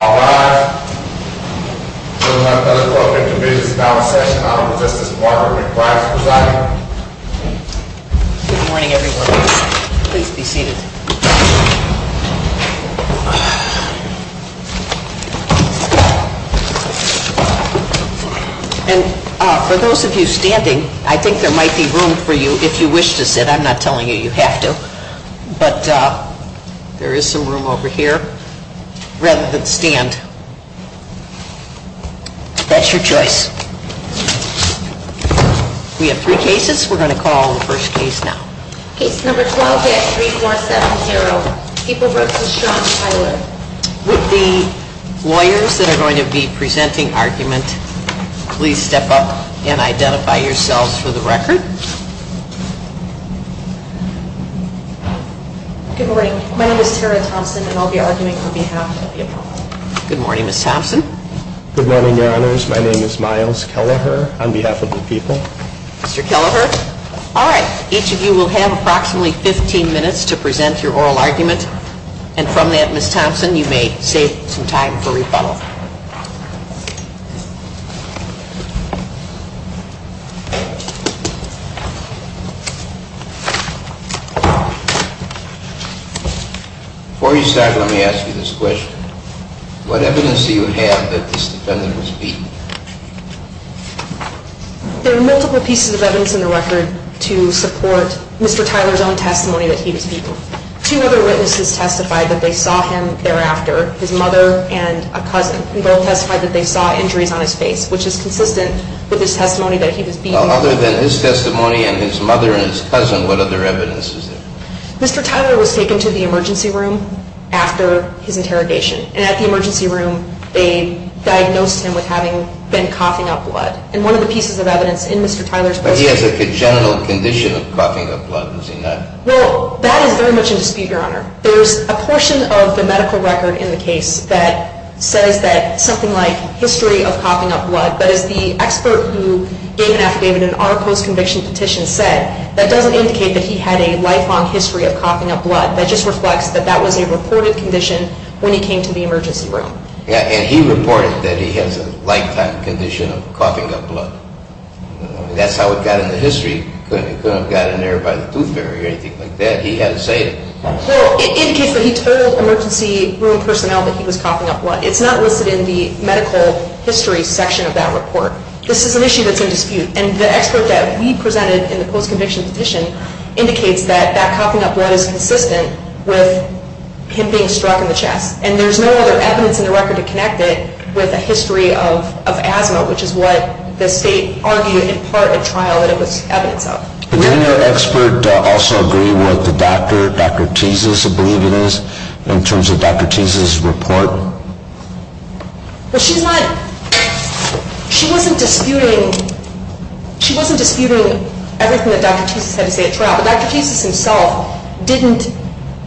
Good morning, everyone. Please be seated. And for those of you standing, I think there might be room for you if you wish to sit. I'm not telling you you have to. But there is some room over here. Rather than stand, that's your choice. We have three cases. We're going to call on the first case now. Case number 12-3470, Pippa Brooks and Sean Tyler. With the lawyers that are going to be presenting argument, please step up and identify yourselves for the record. Good morning. My name is Tara Thompson, and I'll be arguing on behalf of the appellant. Good morning, Ms. Thompson. Good morning, Your Honors. My name is Miles Kelleher on behalf of the people. Mr. Kelleher. All right. Each of you will have approximately 15 minutes to present your oral argument. And from that, Ms. Thompson, you may save some time for rebuttal. Before you start, let me ask you this question. What evidence do you have that this defendant was beaten? There are multiple pieces of evidence in the record to support Mr. Tyler's own testimony that he was beaten. Two other witnesses testified that they saw him thereafter, his mother and a cousin. They both testified that they saw injuries on his face, which is consistent with his testimony that he was beaten. Well, other than his testimony and his mother and his cousin, what other evidence is there? Mr. Tyler was taken to the emergency room after his interrogation. And at the emergency room, they diagnosed him with having been coughing up blood. And one of the pieces of evidence in Mr. Tyler's testimony... But he has a congenital condition of coughing up blood, does he not? Well, that is very much in dispute, Your Honor. There's a portion of the medical record in the case that says that something like history of coughing up blood, but as the expert who gave an affidavit in our post-conviction petition said, that doesn't indicate that he had a lifelong history of coughing up blood. That just reflects that that was a reported condition when he came to the emergency room. Yeah, and he reported that he has a lifetime condition of coughing up blood. That's how it got in the history. It couldn't have gotten there by the tooth fairy or anything like that. He had to say it. Well, it indicates that he told emergency room personnel that he was coughing up blood. It's not listed in the medical history section of that report. This is an issue that's in dispute. And the expert that we presented in the post-conviction petition indicates that that coughing up blood is consistent with him being struck in the chest. And there's no other evidence in the record to connect it with a history of asthma, which is what the state argued in part at trial that it was evidence of. But didn't the expert also agree with the doctor, Dr. Teases, I believe it is, in terms of Dr. Teases' report? Well, she's not, she wasn't disputing, she wasn't disputing everything that Dr. Teases had to say at trial. But Dr. Teases himself didn't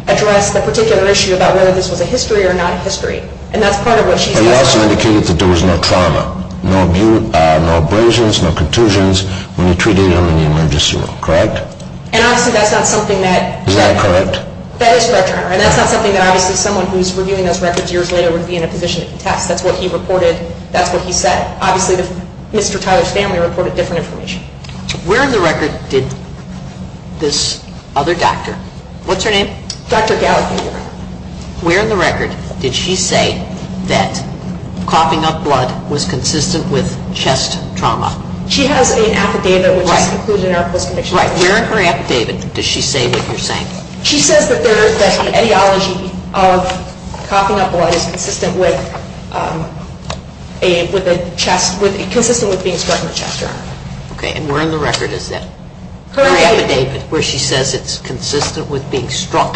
address the particular issue about whether this was a history or not a history. And that's part of what she's arguing. But he also indicated that there was no trauma, no abrasions, no contusions when he treated him in the emergency room, correct? And obviously that's not something that – Is that correct? That is correct, Your Honor. And that's not something that obviously someone who's reviewing those records years later would be in a position to contest. That's what he reported. That's what he said. Obviously Mr. Tyler's family reported different information. Where in the record did this other doctor – what's her name? Dr. Gallagher. Where in the record did she say that coughing up blood was consistent with chest trauma? She has an affidavit which is included in our post-conviction report. Right. Where in her affidavit does she say what you're saying? She says that the etiology of coughing up blood is consistent with chest – consistent with being struck in the chest, Your Honor. Okay. And where in the record is that? Her affidavit. Her affidavit where she says it's consistent with being struck.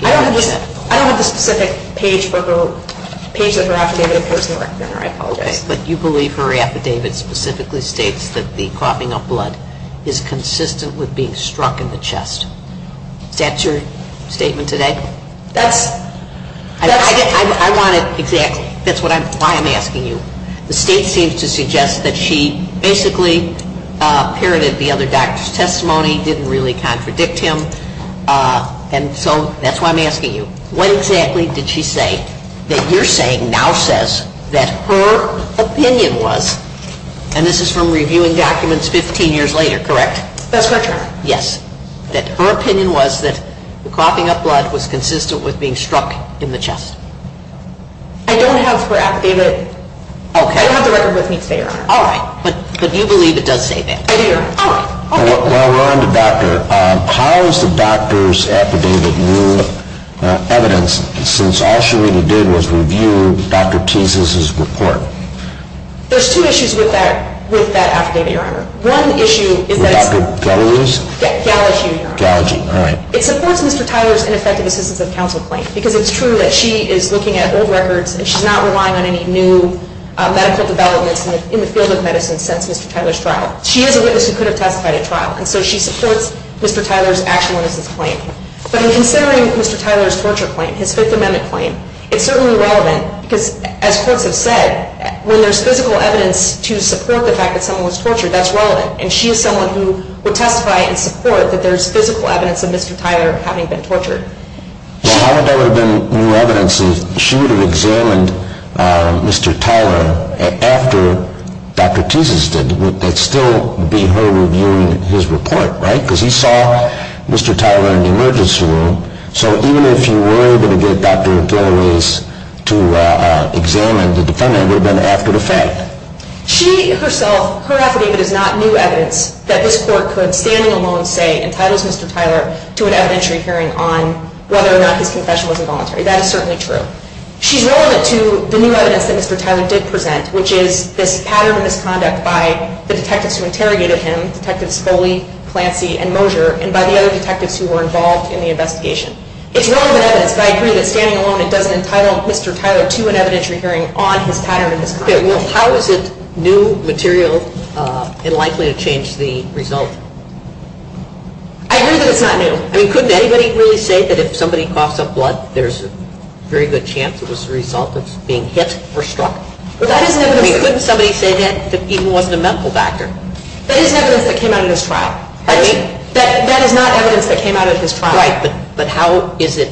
I don't have the specific page of her affidavit in person. I apologize. Okay. But you believe her affidavit specifically states that the coughing up blood is consistent with being struck in the chest. Is that your statement today? That's – I wanted – exactly. That's why I'm asking you. The state seems to suggest that she basically pirated the other doctor's testimony, didn't really contradict him. And so that's why I'm asking you. What exactly did she say that you're saying now says that her opinion was – and this is from reviewing documents 15 years later, correct? That's correct, Your Honor. Yes. That her opinion was that the coughing up blood was consistent with being struck in the chest. I don't have her affidavit. Okay. I don't have the record with me today, Your Honor. All right. But you believe it does say that? I do, Your Honor. All right. While we're on the doctor, how is the doctor's affidavit new evidence since all she really did was review Dr. Teas' report? There's two issues with that affidavit, Your Honor. One issue is that – With Dr. Gallagher's? Gallagher, Your Honor. Gallagher, all right. It supports Mr. Tyler's ineffective assistance of counsel claim because it's true that she is looking at old records and she's not relying on any new medical developments in the field of medicine since Mr. Tyler's trial. She is a witness who could have testified at trial, and so she supports Mr. Tyler's actual innocence claim. But in considering Mr. Tyler's torture claim, his Fifth Amendment claim, it's certainly relevant because, as courts have said, when there's physical evidence to support the fact that someone was tortured, that's relevant. And she is someone who would testify and support that there's physical evidence of Mr. Tyler having been tortured. Well, how would that have been new evidence if she would have examined Mr. Tyler after Dr. Teas' did? It would still be her reviewing his report, right? Because he saw Mr. Tyler in the emergency room. So even if you were able to get Dr. Gallagher's to examine the defendant, it would have been after the fact. She herself, her affidavit is not new evidence that this court could, standing alone, say entitles Mr. Tyler to an evidentiary hearing on whether or not his confession was involuntary. That is certainly true. She's relevant to the new evidence that Mr. Tyler did present, which is this pattern of misconduct by the detectives who interrogated him, Detectives Foley, Clancy, and Mosier, and by the other detectives who were involved in the investigation. It's relevant evidence, but I agree that, standing alone, it doesn't entitle Mr. Tyler to an evidentiary hearing on his pattern of misconduct. Okay, well, how is it new material and likely to change the result? I agree that it's not new. I mean, couldn't anybody really say that if somebody coughs up blood, there's a very good chance it was the result of being hit or struck? That isn't evidence. I mean, couldn't somebody say that it even wasn't a medical factor? That isn't evidence that came out of his trial. That is not evidence that came out of his trial. Right, but how is it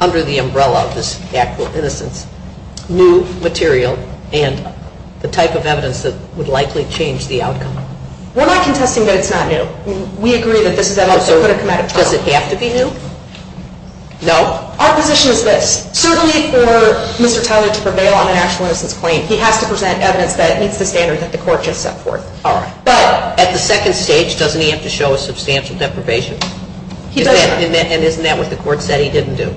under the umbrella of this Act of Innocence new material and the type of evidence that would likely change the outcome? We're not contesting that it's not new. We agree that this is evidence that couldn't come out of trial. Does it have to be new? No. Our position is this. Certainly for Mr. Tyler to prevail on an actual innocence claim, he has to present evidence that meets the standard that the court just set forth. All right. But at the second stage, doesn't he have to show a substantial deprivation? He doesn't. And isn't that what the court said he didn't do?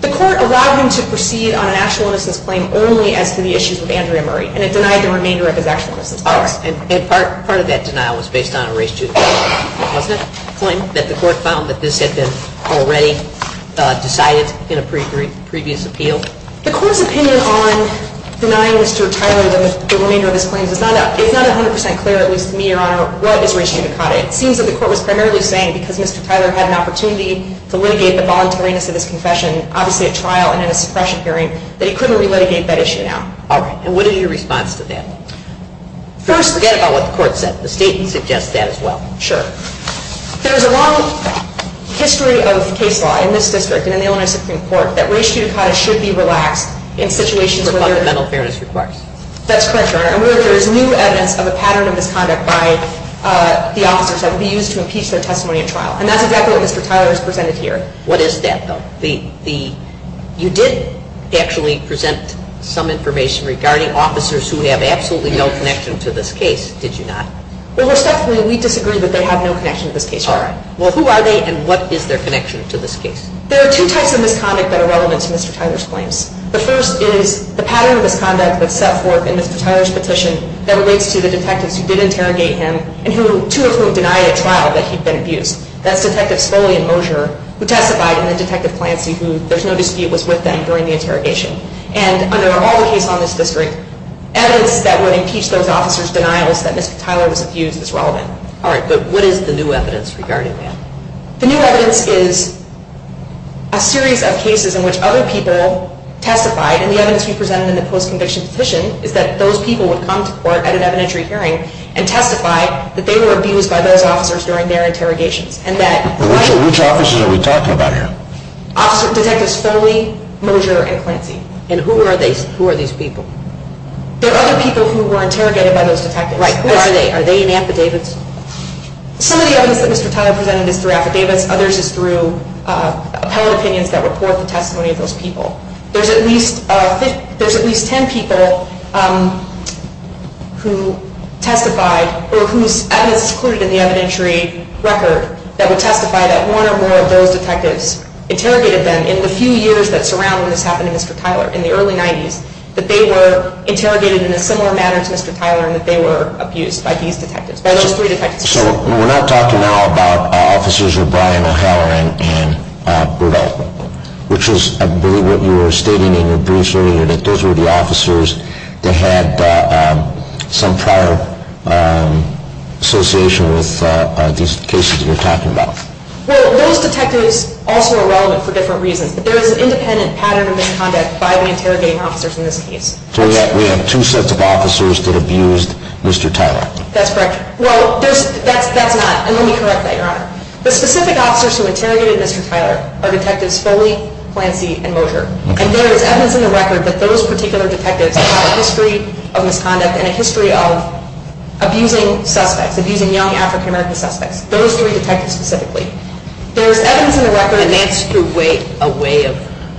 The court allowed him to proceed on an actual innocence claim only as to the issues with Andrea Murray. And it denied the remainder of his actual innocence. All right. And part of that denial was based on a race to the death claim, wasn't it? A claim that the court found that this had been already decided in a previous appeal? The court's opinion on denying Mr. Tyler the remainder of his claims is not 100% clear, at least to me, Your Honor. What is race judicata? It seems that the court was primarily saying because Mr. Tyler had an opportunity to litigate the voluntariness of his confession, obviously at trial and in a suppression hearing, that he couldn't re-litigate that issue now. All right. And what is your response to that? First, forget about what the court said. The statement suggests that as well. Sure. There is a long history of case law in this district and in the Illinois Supreme Court that race judicata should be relaxed in situations where there is new evidence of a pattern of misconduct by the officers that would be used to impeach their testimony at trial. And that's exactly what Mr. Tyler has presented here. What is that, though? You did actually present some information regarding officers who have absolutely no connection to this case, did you not? Well, respectfully, we disagree that they have no connection to this case, Your Honor. All right. Well, who are they and what is their connection to this case? There are two types of misconduct that are relevant to Mr. Tyler's claims. The first is the pattern of misconduct that's set forth in Mr. Tyler's petition that relates to the detectives who did interrogate him and two of whom denied at trial that he'd been abused. That's Detective Spolian Moser, who testified, and then Detective Clancy, who there's no dispute was with them during the interrogation. And under all the cases on this district, evidence that would impeach those officers' denial is that Mr. Tyler was abused is relevant. All right. But what is the new evidence regarding that? The new evidence is a series of cases in which other people testified, and the evidence we presented in the post-conviction petition is that those people would come to court at an evidentiary hearing and testify that they were abused by those officers during their interrogations. Which officers are we talking about here? Detectives Foley, Moser, and Clancy. And who are these people? There are other people who were interrogated by those detectives. Right. Who are they? Are they in affidavits? Some of the evidence that Mr. Tyler presented is through affidavits. Others is through appellate opinions that report the testimony of those people. There's at least 10 people who testified, or whose evidence is included in the evidentiary record, that would testify that one or more of those detectives interrogated them in the few years that surround when this happened to Mr. Tyler, in the early 90s, that they were interrogated in a similar manner to Mr. Tyler and that they were abused by these detectives, by those three detectives. So we're not talking now about officers who are Brian O'Halloran and Burdell, which is, I believe, what you were stating in your briefs earlier, that those were the officers that had some prior association with these cases that you're talking about. Well, those detectives also are relevant for different reasons. There is an independent pattern of misconduct by the interrogating officers in this case. So we have two sets of officers that abused Mr. Tyler. That's correct. Well, that's not. And let me correct that, Your Honor. The specific officers who interrogated Mr. Tyler are Detectives Foley, Clancy, and Moser. And there is evidence in the record that those particular detectives have a history of misconduct and a history of abusing suspects, abusing young African-American suspects, those three detectives specifically. There is evidence in the record. And that's through a way of,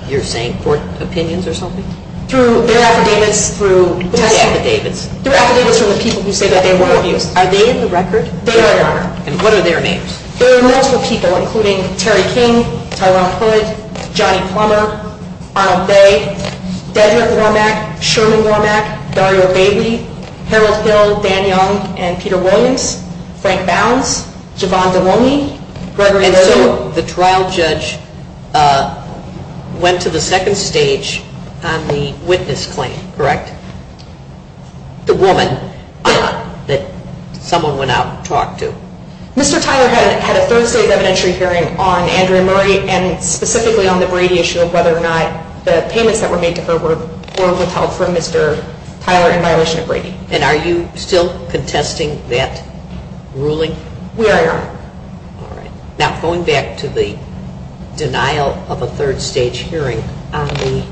you're saying, court opinions or something? Through their affidavits. Through the affidavits. Through affidavits from the people who say that they were abused. Are they in the record? They are, Your Honor. And what are their names? There are multiple people, including Terry King, Tyrone Hood, Johnny Plummer, Arnold Bay, Dedrick Wormack, Sherman Wormack, Dario Bailey, Harold Hill, Dan Young, and Peter Williams, Frank Bounds, Javon DeWolny, Gregory Lergo. And so the trial judge went to the second stage on the witness claim, correct? The woman that someone went out and talked to. Mr. Tyler had a third stage evidentiary hearing on Andrea Murray and specifically on the Brady issue of whether or not the payments that were made to her were withheld from Mr. Tyler in violation of Brady. And are you still contesting that ruling? We are, Your Honor. All right. Now, going back to the denial of a third stage hearing on the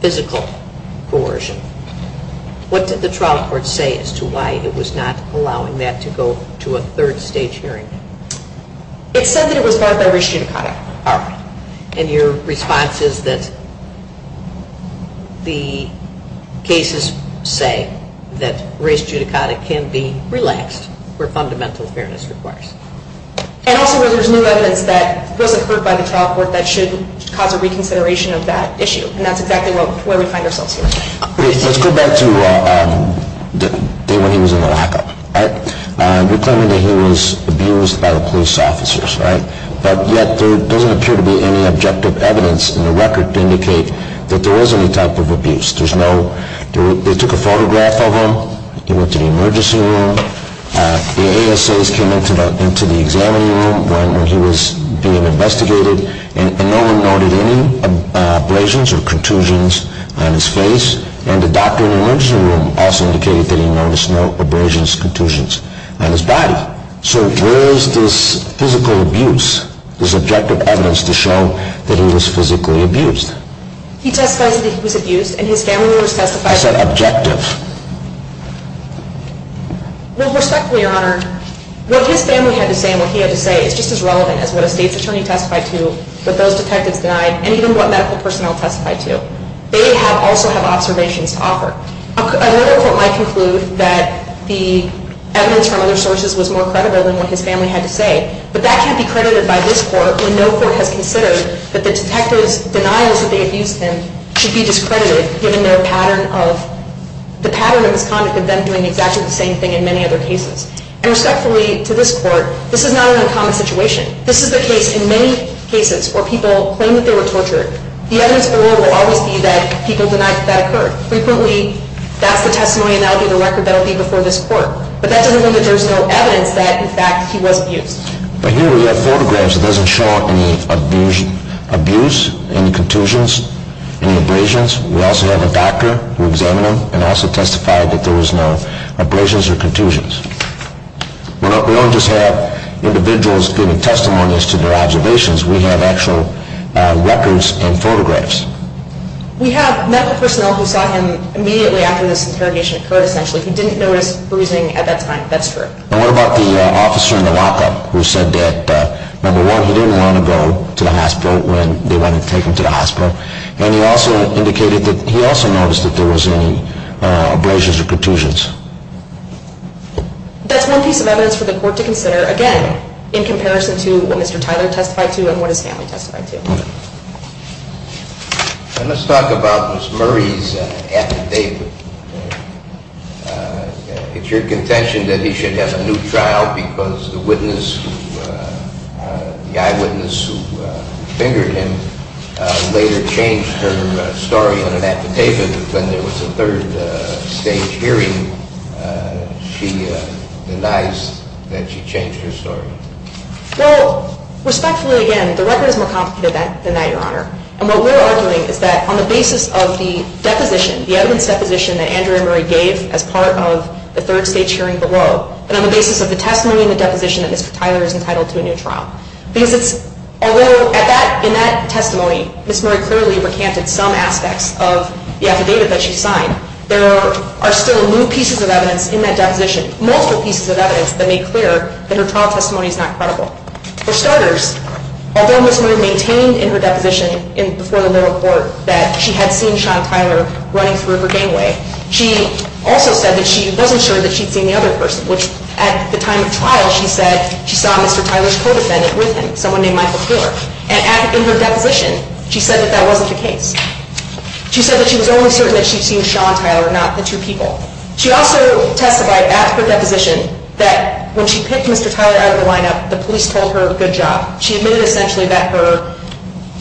physical coercion, what did the trial court say as to why it was not allowing that to go to a third stage hearing? It said that it was barred by race judicata. All right. And your response is that the cases say that race judicata can be relaxed where fundamental fairness requires. And also where there's new evidence that wasn't heard by the trial court that should cause a reconsideration of that issue. And that's exactly where we find ourselves here. Let's go back to the day when he was in the lockup. You're claiming that he was abused by the police officers, right? But yet there doesn't appear to be any objective evidence in the record to indicate that there was any type of abuse. They took a photograph of him. He went to the emergency room. The ASAs came into the examining room when he was being investigated. And no one noted any abrasions or contusions on his face. And the doctor in the emergency room also indicated that he noticed no abrasions, contusions on his body. So where is this physical abuse, this objective evidence to show that he was physically abused? He testifies that he was abused, and his family members testified to that. I said objective. Well, respectfully, Your Honor, what his family had to say and what he had to say is just as relevant as what a state's attorney testified to, what those detectives denied, and even what medical personnel testified to. They also have observations to offer. Another court might conclude that the evidence from other sources was more credible than what his family had to say. But that can't be credited by this court when no court has considered that the detectives' denials that they abused him should be discredited, given the pattern of this conduct of them doing exactly the same thing in many other cases. And respectfully, to this court, this is not an uncommon situation. This is the case in many cases where people claim that they were tortured. The evidence for it will always be that people denied that that occurred. Frequently, that's the testimony and that will be the record that will be before this court. But that doesn't mean that there's no evidence that, in fact, he was abused. But here we have photographs that doesn't show any abuse, any contusions, any abrasions. We also have a doctor who examined him and also testified that there was no abrasions or contusions. We don't just have individuals giving testimonies to their observations. We have actual records and photographs. We have medical personnel who saw him immediately after this interrogation occurred, essentially. He didn't notice bruising at that time. That's true. And what about the officer in the lockup who said that, number one, he didn't want to go to the hospital when they wanted to take him to the hospital. And he also indicated that he also noticed that there was any abrasions or contusions. That's one piece of evidence for the court to consider, again, in comparison to what Mr. Tyler testified to and what his family testified to. Let's talk about Ms. Murray's affidavit. It's your contention that he should have a new trial because the eyewitness who fingered him later changed her story on an affidavit when there was a third stage hearing. She denies that she changed her story. Well, respectfully, again, the record is more complicated than that, Your Honor. And what we're arguing is that on the basis of the deposition, the evidence deposition that Andrea Murray gave as part of the third stage hearing below, and on the basis of the testimony and the deposition that Mr. Tyler is entitled to a new trial. In that testimony, Ms. Murray clearly recanted some aspects of the affidavit that she signed. There are still new pieces of evidence in that deposition, multiple pieces of evidence that make clear that her trial testimony is not credible. For starters, although Ms. Murray maintained in her deposition before the lower court that she had seen Sean Tyler running through her gangway, she also said that she wasn't sure that she'd seen the other person, which at the time of trial, she said she saw Mr. Tyler's co-defendant with him, someone named Michael Koehler. And in her deposition, she said that that wasn't the case. She said that she was only certain that she'd seen Sean Tyler, not the two people. She also testified at her deposition that when she picked Mr. Tyler out of the lineup, the police told her, good job. She admitted essentially that her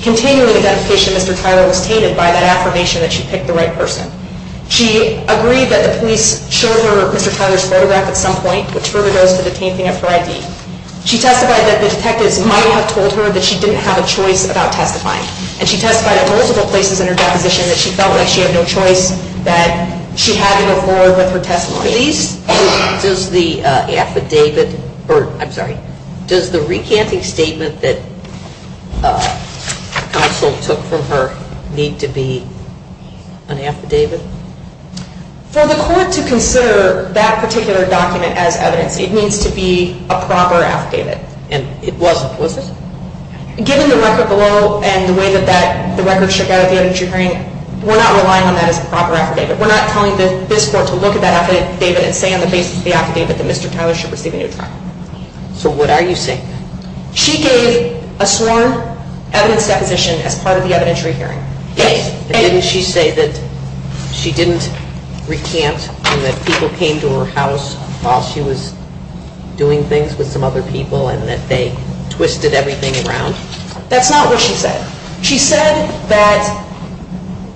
continuing identification of Mr. Tyler was tainted by that affirmation that she picked the right person. She agreed that the police showed her Mr. Tyler's photograph at some point, which further goes to the tainting of her ID. She testified that the detectives might have told her that she didn't have a choice about testifying. And she testified at multiple places in her deposition that she felt like she had no choice, that she had to go forward with her testimony. Does the recanting statement that counsel took from her need to be an affidavit? For the court to consider that particular document as evidence, it needs to be a proper affidavit. And it wasn't, was it? Given the record below and the way that the record shook out at the evidence you're hearing, we're not relying on that as a proper affidavit. We're not telling this court to look at that affidavit and say on the basis of the affidavit that Mr. Tyler should receive a new trial. So what are you saying? She gave a sworn evidence deposition as part of the evidentiary hearing. Yes. And didn't she say that she didn't recant and that people came to her house while she was doing things with some other people and that they twisted everything around? That's not what she said. She said that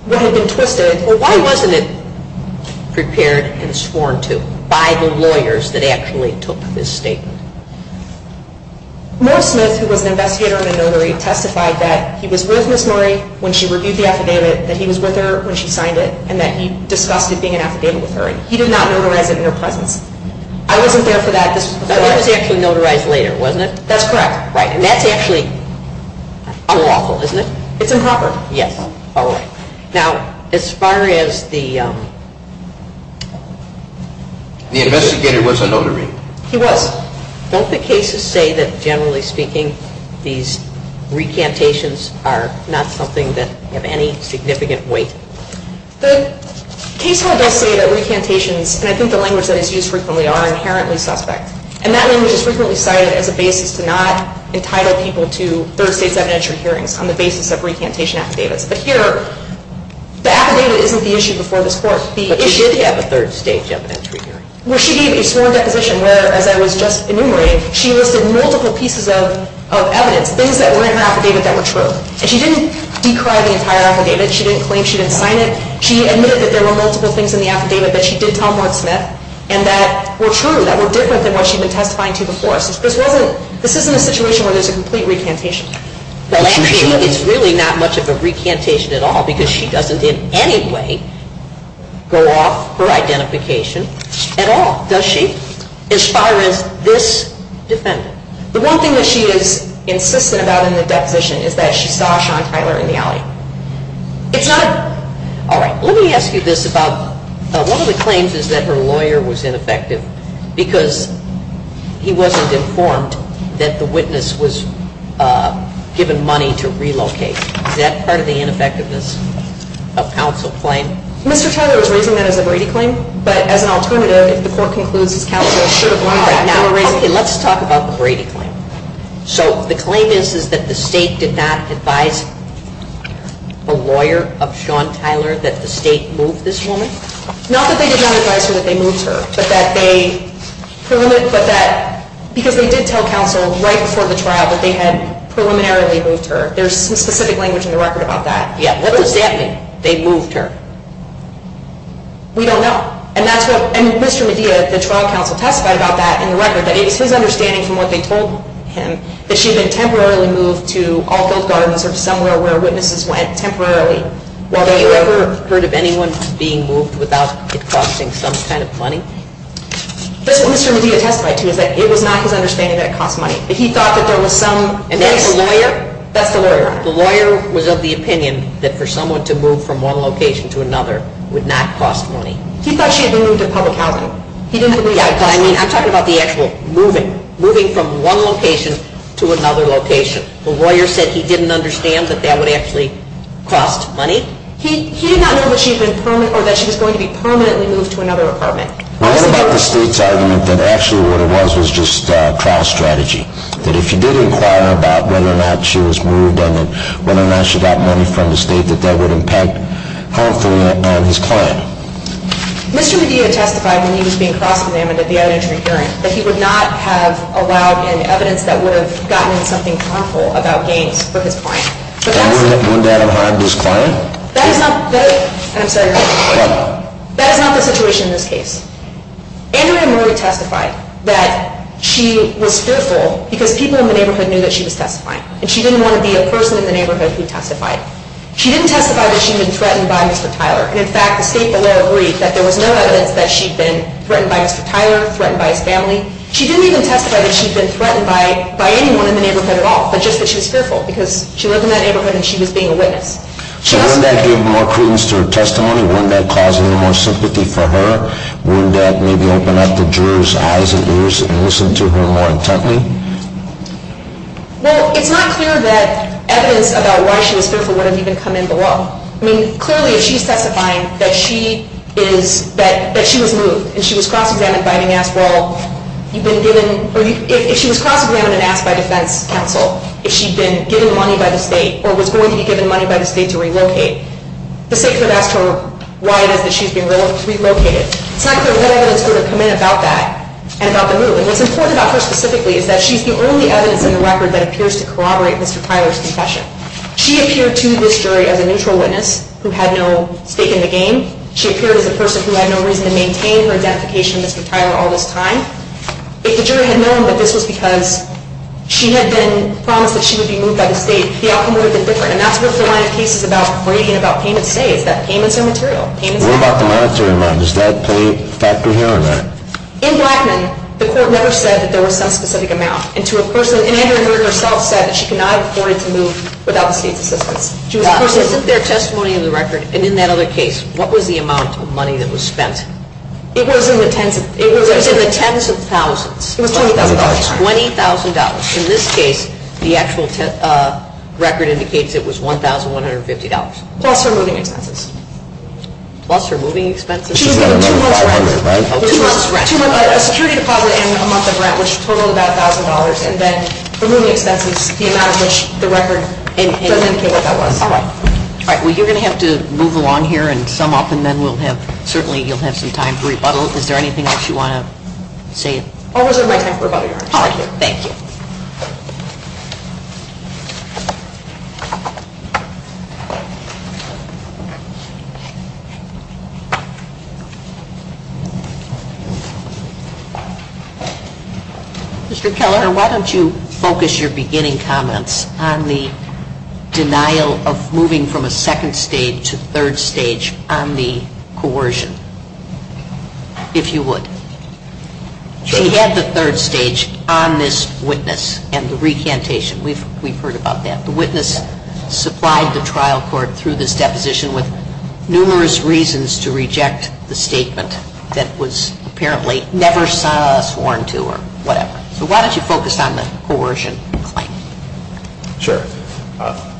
what had been twisted... Well, why wasn't it prepared and sworn to by the lawyers that actually took this statement? Morris Smith, who was an investigator and a notary, testified that he was with Ms. Murray when she reviewed the affidavit, that he was with her when she signed it, and that he discussed it being an affidavit with her. He did not notarize it in her presence. I wasn't there for that. That letter was actually notarized later, wasn't it? That's correct. And that's actually unlawful, isn't it? It's improper. Yes. All right. Now, as far as the... The investigator was a notary. He was. Don't the cases say that, generally speaking, these recantations are not something that have any significant weight? The case law does say that recantations, and I think the language that is used frequently, are inherently suspect. And that language is frequently cited as a basis to not entitle people to third-stage evidentiary hearings on the basis of recantation affidavits. But here, the affidavit isn't the issue before this Court. But she did have a third-stage evidentiary hearing. Well, she gave a sworn deposition where, as I was just enumerating, she listed multiple pieces of evidence, things that were in her affidavit that were true. And she didn't decry the entire affidavit. She didn't claim she didn't sign it. She admitted that there were multiple things in the affidavit that she did tell Mark Smith and that were true, that were different than what she had been testifying to before. So this wasn't... This isn't a situation where there's a complete recantation. Well, actually, it's really not much of a recantation at all because she doesn't in any way go off her identification at all, does she? As far as this defendant. The one thing that she is insistent about in the deposition is that she saw Sean Tyler in the alley. It's not... All right. Let me ask you this about... One of the claims is that her lawyer was ineffective because he wasn't informed that the witness was given money to relocate. Is that part of the ineffectiveness of counsel claim? Mr. Tyler was raising that as a Brady claim. But as an alternative, if the Court concludes his counsel should have... All right. Let's talk about the Brady claim. So the claim is that the State did not advise the lawyer of Sean Tyler that the State moved this woman? Not that they did not advise her that they moved her, but that they... Because they did tell counsel right before the trial that they had preliminarily moved her. There's some specific language in the record about that. Yeah. What does that mean, they moved her? We don't know. And that's what... And Mr. Medea, the trial counsel testified about that in the record, that it is his understanding from what they told him that she had been temporarily moved to Alfield Gardens or to somewhere where witnesses went temporarily. Well, have you ever heard of anyone being moved without it costing some kind of money? That's what Mr. Medea testified to, is that it was not his understanding that it cost money. But he thought that there was some... And that's the lawyer? That's the lawyer. The lawyer was of the opinion that for someone to move from one location to another would not cost money. He thought she had been moved to public housing. He didn't believe... Yeah, but I mean, I'm talking about the actual moving, moving from one location to another location. The lawyer said he didn't understand that that would actually cost money. He did not know that she had been permanently... or that she was going to be permanently moved to another apartment. What about the state's argument that actually what it was was just trial strategy, that if you did inquire about whether or not she was moved and whether or not she got money from the state, that that would impact harmfully on his client? Mr. Medea testified when he was being cross-examined at the out-of-jury hearing that he would not have allowed in evidence that would have gotten him something harmful about gains for his client. And wouldn't that have harmed his client? That is not... I'm sorry. Go ahead. That is not the situation in this case. Andrea Murray testified that she was fearful because people in the neighborhood knew that she was testifying. And she didn't want to be a person in the neighborhood who testified. She didn't testify that she had been threatened by Mr. Tyler. And, in fact, the state lawyer agreed that there was no evidence that she had been threatened by Mr. Tyler, threatened by his family. She didn't even testify that she had been threatened by anyone in the neighborhood at all, but just that she was fearful because she lived in that neighborhood and she was being a witness. So wouldn't that give more credence to her testimony? Wouldn't that cause any more sympathy for her? Wouldn't that maybe open up the juror's eyes and ears and listen to her more intently? Well, it's not clear that evidence about why she was fearful wouldn't even come in below. I mean, clearly, if she's testifying that she was moved and she was cross-examined and asked by defense counsel if she'd been given money by the state or was going to be given money by the state to relocate, the state could have asked her why it is that she's been relocated. It's not clear what evidence would have come in about that and about the move. And what's important about her specifically is that she's the only evidence in the record that appears to corroborate Mr. Tyler's confession. She appeared to this jury as a neutral witness who had no stake in the game. She appeared as a person who had no reason to maintain her identification of Mr. Tyler all this time. If the jury had known that this was because she had been promised that she would be moved by the state, the outcome would have been different. And that's what the line of cases about grading and about payments say, is that payments are material. What about the monetary amount? Does that play a factor here or not? In Blackman, the court never said that there was some specific amount. And to a person, and Andrew Heard herself said that she could not have afforded to move without the state's assistance. Is it their testimony in the record? And in that other case, what was the amount of money that was spent? It was in the tens of thousands. It was $20,000. $20,000. In this case, the actual record indicates it was $1,150. Plus her moving expenses. Plus her moving expenses? She was given two months' rent. A security deposit and a month of rent, which totaled about $1,000. And then her moving expenses, the amount of which the record doesn't indicate what that was. All right. All right. Well, you're going to have to move along here and sum up, and then we'll have, certainly you'll have some time to rebuttal. Is there anything else you want to say? I'll reserve my time for rebuttal, Your Honor. Thank you. Thank you. Mr. Keller, why don't you focus your beginning comments on the denial of moving from a second stage to third stage on the coercion, if you would. She had the third stage on this witness and the recantation. We've heard about that. The witness supplied the trial court through this deposition with numerous reasons to reject the recantation. The statement that was apparently never saw us warned to or whatever. So why don't you focus on the coercion claim? Sure.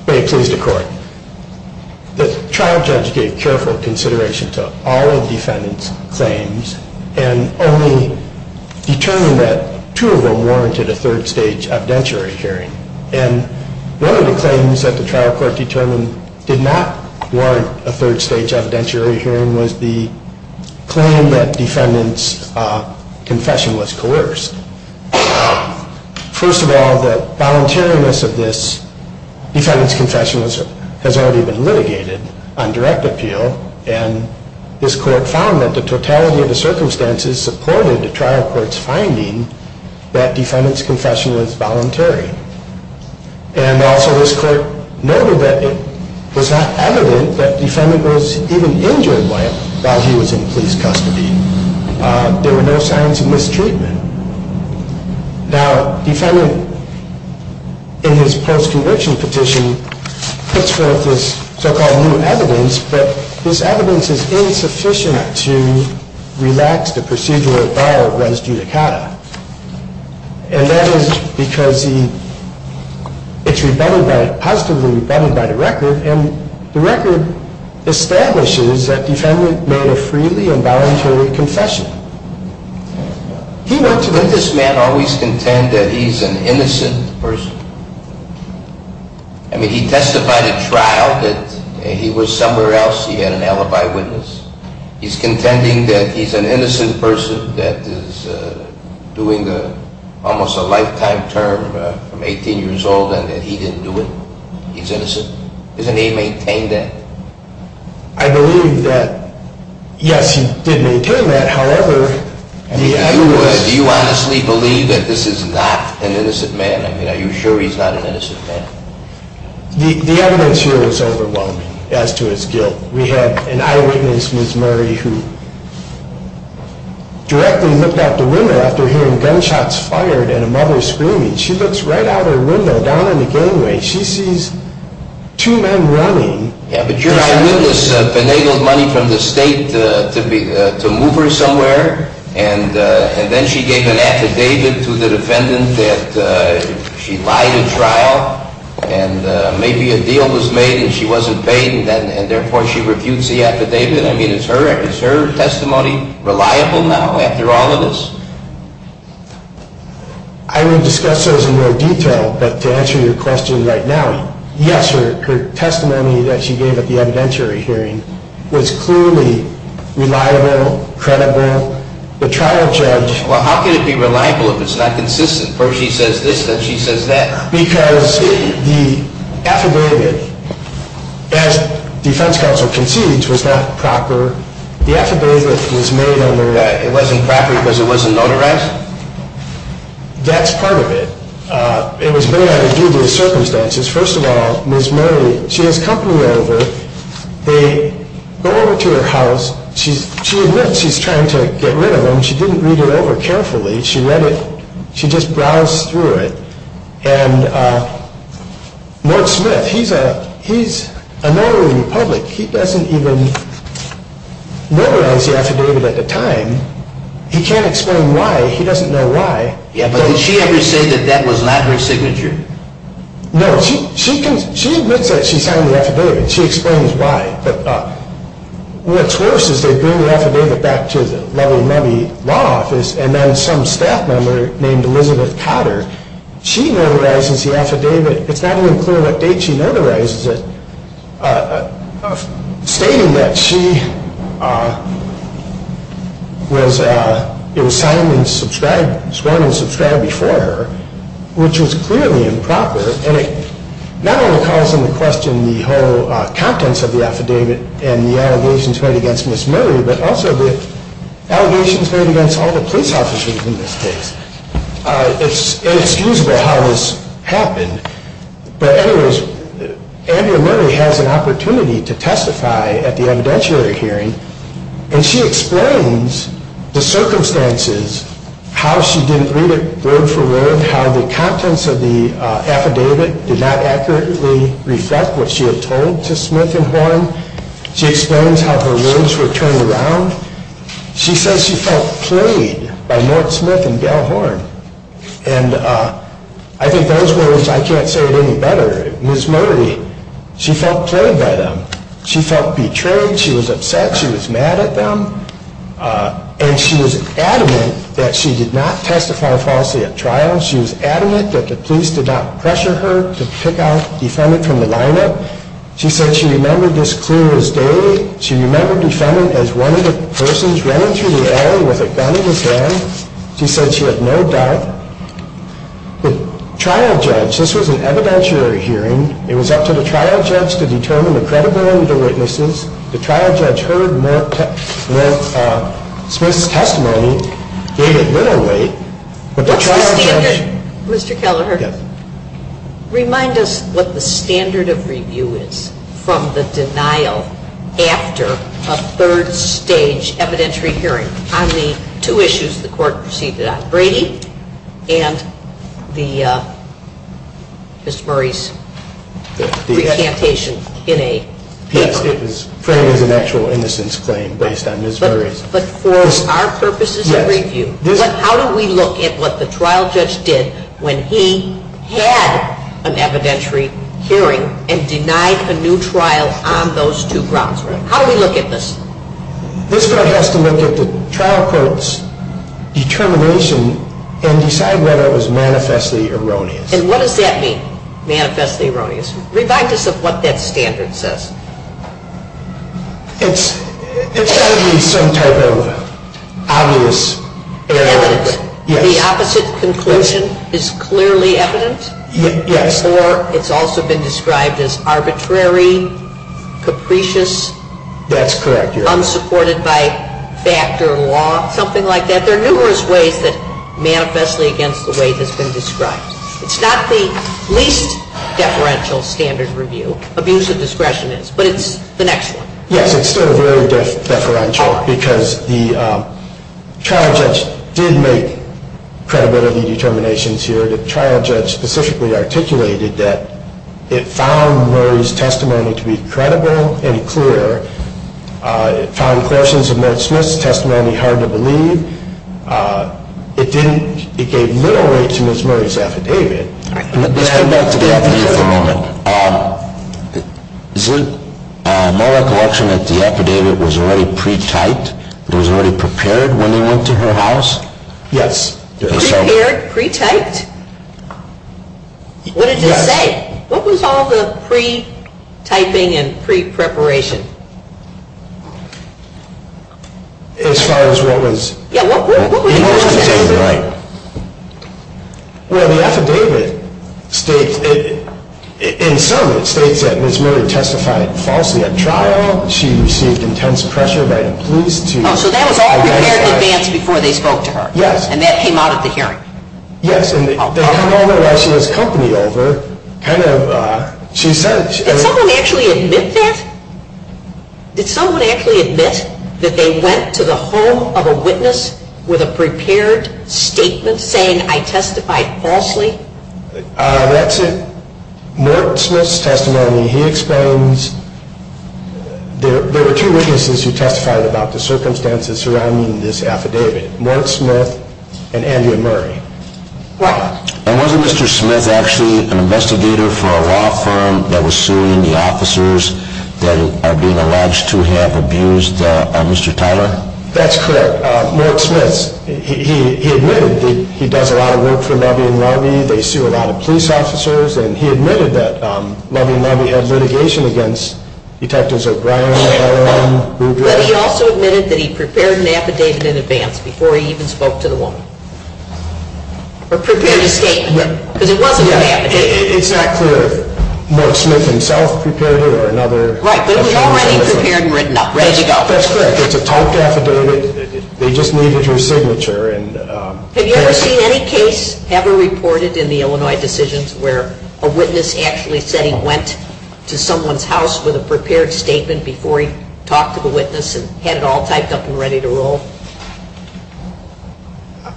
May it please the Court. The trial judge gave careful consideration to all of the defendant's claims and only determined that two of them warranted a third stage evidentiary hearing. And one of the claims that the trial court determined did not warrant a third stage evidentiary hearing was the claim that defendant's confession was coerced. First of all, the voluntariness of this defendant's confession has already been litigated on direct appeal. And this court found that the totality of the circumstances supported the trial court's finding that defendant's confession was voluntary. And also this court noted that it was not evident that defendant was even injured by it while he was in police custody. There were no signs of mistreatment. Now, defendant, in his post-conviction petition, puts forth this so-called new evidence. But this evidence is insufficient to relax the procedural bar of res judicata. And that is because it's positively rebutted by the record. And the record establishes that defendant made a freely and voluntarily confession. Did this man always contend that he's an innocent person? I mean, he testified at trial that he was somewhere else, he had an alibi witness. He's contending that he's an innocent person that is doing almost a lifetime term from 18 years old and that he didn't do it. He's innocent. Doesn't he maintain that? I believe that, yes, he did maintain that. However, the evidence… Do you honestly believe that this is not an innocent man? I mean, are you sure he's not an innocent man? The evidence here is overwhelming as to his guilt. We had an eyewitness, Ms. Murray, who directly looked out the window after hearing gunshots fired and a mother screaming. She looks right out her window down in the gangway. She sees two men running. But your eyewitness finagled money from the state to move her somewhere, and then she gave an affidavit to the defendant that she lied at trial, and maybe a deal was made and she wasn't paid, and therefore she refutes the affidavit. I mean, is her testimony reliable now after all of this? I will discuss those in more detail, but to answer your question right now, yes, her testimony that she gave at the evidentiary hearing was clearly reliable, credible. The trial judge… Well, how can it be reliable if it's not consistent? First she says this, then she says that. Because the affidavit, as defense counsel concedes, was not proper. The affidavit was made under… It wasn't proper because it wasn't notarized? That's part of it. It was made under dubious circumstances. First of all, Ms. Murray, she has company over. They go over to her house. She admits she's trying to get rid of him. She didn't read it over carefully. She just browsed through it. And Mark Smith, he's a notary public. He doesn't even notarize the affidavit at the time. He can't explain why. He doesn't know why. Yeah, but did she ever say that that was not her signature? No. She admits that she signed the affidavit. She explains why. But what's worse is they bring the affidavit back to the level money law office and then some staff member named Elizabeth Cotter, she notarizes the affidavit. It's not even clear what date she notarizes it, stating that it was sworn and subscribed before her, which was clearly improper. And it not only calls into question the whole contents of the affidavit and the allegations made against Ms. Murray, but also the allegations made against all the police officers in this case. It's inexcusable how this happened. But anyways, Andrea Murray has an opportunity to testify at the evidentiary hearing and she explains the circumstances, how she didn't read it word for word, how the contents of the affidavit did not accurately reflect what she had told to Smith and Horn. She explains how her words were turned around. She says she felt played by Mark Smith and Gail Horn. And I think those words, I can't say it any better. Ms. Murray, she felt played by them. She felt betrayed. She was upset. She was mad at them. And she was adamant that she did not testify falsely at trial. She was adamant that the police did not pressure her to pick out defendant from the lineup. She said she remembered this clear as day. She remembered defendant as one of the persons running through the alley with a gun in his hand. She said she had no doubt. The trial judge, this was an evidentiary hearing. It was up to the trial judge to determine the credible and the witnesses. The trial judge heard Mark Smith's testimony, gave it little weight. But the trial judge. Mr. Kelleher, remind us what the standard of review is from the denial after a third stage evidentiary hearing on the two issues the court proceeded on, Brady and Ms. Murray's recantation in a paper. Yes, it was framed as an actual innocence claim based on Ms. Murray's. But for our purposes of review, how do we look at what the trial judge did when he had an evidentiary hearing and denied a new trial on those two grounds? How do we look at this? This court has to look at the trial court's determination and decide whether it was manifestly erroneous. And what does that mean, manifestly erroneous? Remind us of what that standard says. It's got to be some type of obvious error. Evidence. Yes. The opposite conclusion is clearly evident? Yes. Or it's also been described as arbitrary, capricious? That's correct, Your Honor. Unsupported by fact or law, something like that. There are numerous ways that manifestly against the way it has been described. It's not the least deferential standard review. Abuse of discretion is. But it's the next one. Yes, it's still very deferential because the trial judge did make credibility determinations here. The trial judge specifically articulated that it found Murray's testimony to be credible and clear. It found Clarson's and Merck-Smith's testimony hard to believe. It gave little weight to Ms. Murray's affidavit. Let's go back to the affidavit for a moment. Is it my recollection that the affidavit was already pre-typed? It was already prepared when they went to her house? Yes. It was prepared, pre-typed? Yes. What did it say? What was all the pre-typing and pre-preparation? As far as what was in the affidavit? Well, the affidavit states, in sum, it states that Ms. Murray testified falsely at trial. She received intense pressure by the police to identify her. Oh, so that was all prepared in advance before they spoke to her? Yes. And that came out at the hearing? Yes. And they hung over while she was company over, kind of. Did someone actually admit that? Did someone actually admit that they went to the home of a witness with a prepared statement saying, I testified falsely? That's it. Merck-Smith's testimony, he explains, there were two witnesses who testified about the circumstances surrounding this affidavit. Merck-Smith and Andrea Murray. And wasn't Mr. Smith actually an investigator for a law firm that was suing the officers that are being alleged to have abused Mr. Tyler? That's correct. Merck-Smith, he admitted that he does a lot of work for Lovey & Lovey. They sue a lot of police officers. And he admitted that Lovey & Lovey had litigation against Detectives O'Brien, LLM, Ruger. But he also admitted that he prepared an affidavit in advance before he even spoke to the woman. Or prepared a statement. Because it wasn't an affidavit. It's not clear if Merck-Smith himself prepared it or another attorney. Right, but it was already prepared and written up. That's correct. It's a talked affidavit. They just needed your signature. Have you ever seen any case ever reported in the Illinois Decisions where a witness actually said he went to someone's house with a prepared statement before he talked to the witness and had it all typed up and ready to roll?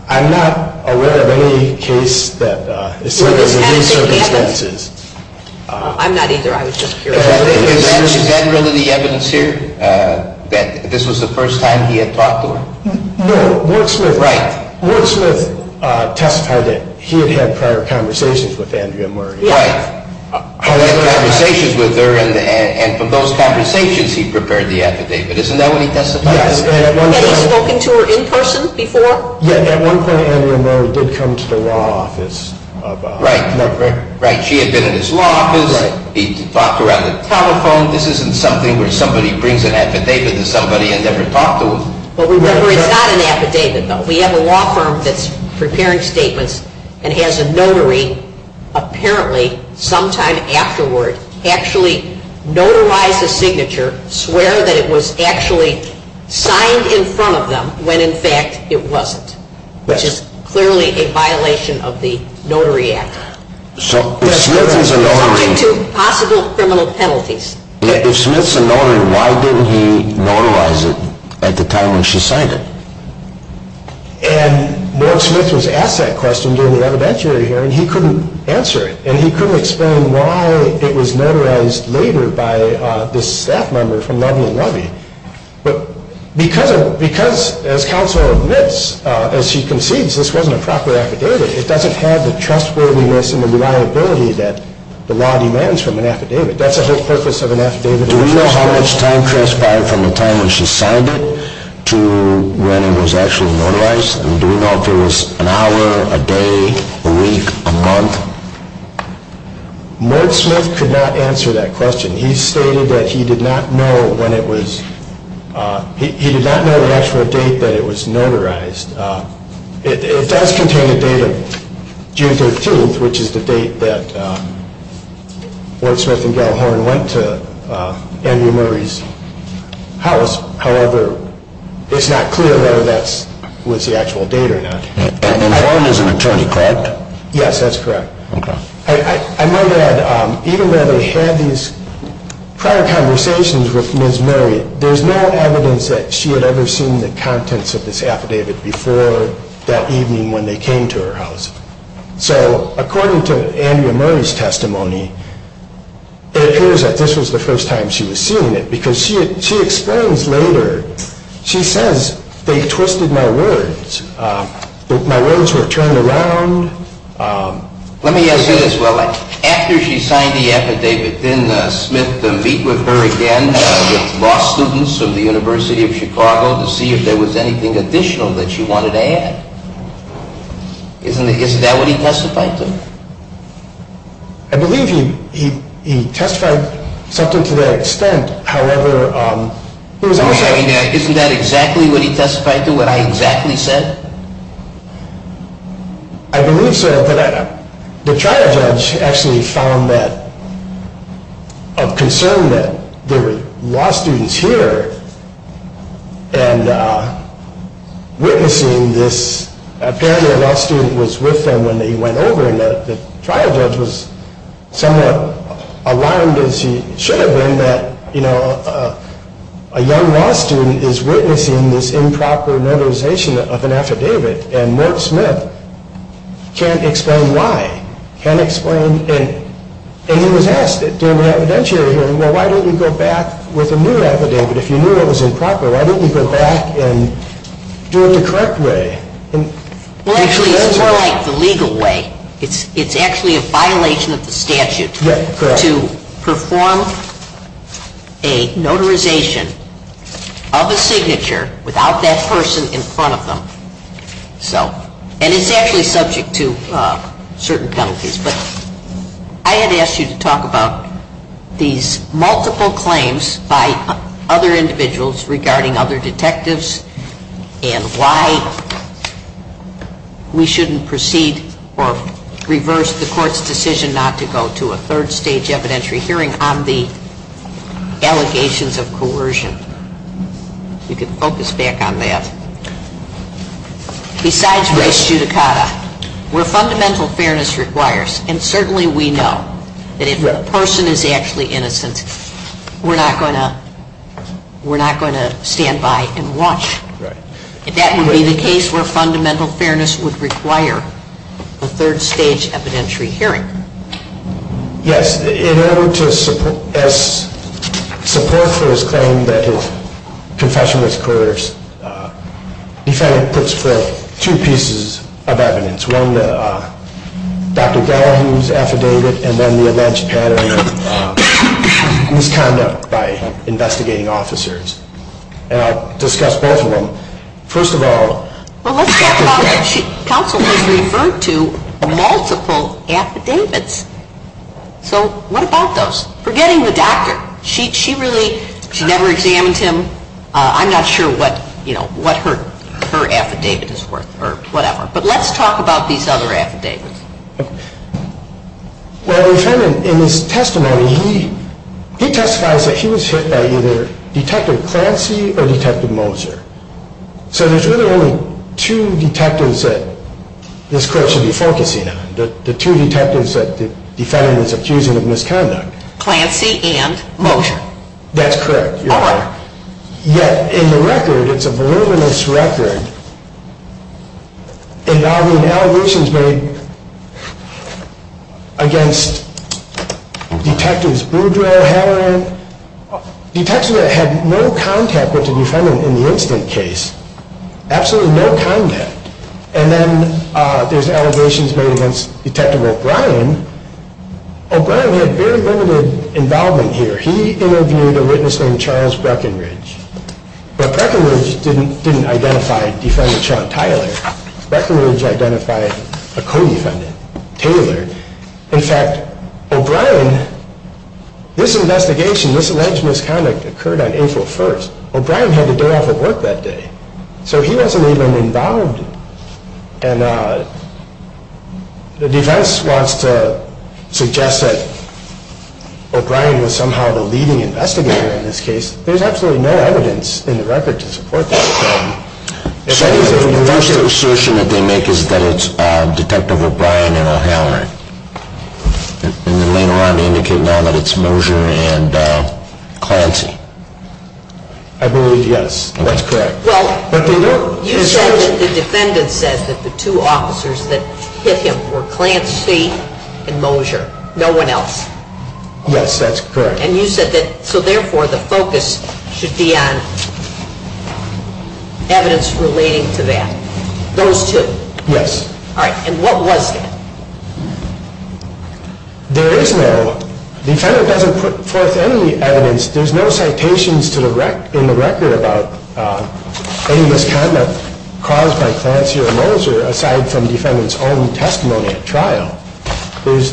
I'm not aware of any case that has had these circumstances. I'm not either, I was just curious. Is that really the evidence here? That this was the first time he had talked to her? No, Merck-Smith testified that he had had prior conversations with Andrea Murray. He had conversations with her and from those conversations he prepared the affidavit. Isn't that what he testified? Had he spoken to her in person before? Yeah, at one point Andrea Murray did come to the law office. Right, she had been at his law office. He talked around the telephone. This isn't something where somebody brings an affidavit to somebody and never talked to them. It's not an affidavit though. We have a law firm that's preparing statements and has a notary apparently sometime afterward actually notarize a signature, swear that it was actually signed in front of them when in fact it wasn't, which is clearly a violation of the Notary Act. So if Smith's a notary, why didn't he notarize it at the time when she signed it? And Merck-Smith was asked that question during the evidentiary hearing. He couldn't answer it and he couldn't explain why it was notarized later by this staff member from Loveland Lobby. But because as counsel admits, as she concedes, this wasn't a proper affidavit, it doesn't have the trustworthiness and the reliability that the law demands from an affidavit. That's the whole purpose of an affidavit. But do we know how much time transpired from the time when she signed it to when it was actually notarized? And do we know if it was an hour, a day, a week, a month? Merck-Smith could not answer that question. He stated that he did not know the actual date that it was notarized. It does contain a date of June 13th, which is the date that Ward Smith and Gellhorn went to Andrew Murray's house. However, it's not clear whether that was the actual date or not. And Gellhorn is an attorney correct? Yes, that's correct. Okay. I know that even though they had these prior conversations with Ms. Murray, there's no evidence that she had ever seen the contents of this affidavit before that evening when they came to her house. So according to Andrew Murray's testimony, it appears that this was the first time she was seeing it, because she explains later, she says, they twisted my words. My words were turned around. Let me ask you this. Well, after she signed the affidavit, didn't Smith meet with her again with law students of the University of Chicago to see if there was anything additional that she wanted to add? Isn't that what he testified to? I believe he testified something to that extent. However, he was also- Isn't that exactly what he testified to, what I exactly said? I believe so. The trial judge actually found that, of concern that there were law students here and witnessing this, apparently a law student was with them when they went over, and the trial judge was somewhat alarmed, as he should have been, that a young law student is witnessing this improper memorization of an affidavit, and Mort Smith can't explain why, can't explain, and he was asked during the evidentiary hearing, well, why don't you go back with a new affidavit if you knew it was improper? Why don't you go back and do it the correct way? Well, actually, it's more like the legal way. It's actually a violation of the statute to perform a notarization of a signature without that person in front of them. And it's actually subject to certain penalties. But I had asked you to talk about these multiple claims by other individuals regarding other detectives and why we shouldn't proceed or reverse the court's decision not to go to a third stage evidentiary hearing on the allegations of coercion. You can focus back on that. Besides race judicata, where fundamental fairness requires, and certainly we know that if a person is actually innocent, we're not going to stand by and watch. That would be the case where fundamental fairness would require a third stage evidentiary hearing. Yes. In order to support for his claim that his confession was coerced, the defendant puts forth two pieces of evidence. One, Dr. Gallagher's affidavit, and then the alleged pattern of misconduct by investigating officers. And I'll discuss both of them. First of all, counsel has referred to multiple affidavits. So what about those? Forgetting the doctor, she never examined him. I'm not sure what her affidavit is worth or whatever. But let's talk about these other affidavits. Well, the defendant in his testimony, he testifies that he was hit by either Detective Clancy or Detective Moser. So there's really only two detectives that this court should be focusing on, the two detectives that the defendant is accusing of misconduct. Clancy and Moser. That's correct. Yet in the record, it's a voluminous record involving allegations made against Detectives Boudreaux, Halloran, detectives that had no contact with the defendant in the incident case. Absolutely no contact. And then there's allegations made against Detective O'Brien. O'Brien had very limited involvement here. He interviewed a witness named Charles Breckenridge. But Breckenridge didn't identify Defendant Sean Tyler. Breckenridge identified a co-defendant, Taylor. In fact, O'Brien, this investigation, this alleged misconduct occurred on April 1st. O'Brien had the day off of work that day. So he wasn't even involved. And the defense wants to suggest that O'Brien was somehow the leading investigator in this case. There's absolutely no evidence in the record to support that claim. So the first assertion that they make is that it's Detective O'Brien and O'Halloran. And then later on they indicate now that it's Moser and Clancy. I believe yes. That's correct. Well, you said that the defendant said that the two officers that hit him were Clancy and Moser. No one else. Yes, that's correct. And you said that so therefore the focus should be on evidence relating to that. Those two. Yes. All right. And what was that? There is no. The defendant doesn't put forth any evidence. There's no citations in the record about any misconduct caused by Clancy or Moser, aside from the defendant's own testimony at trial. There's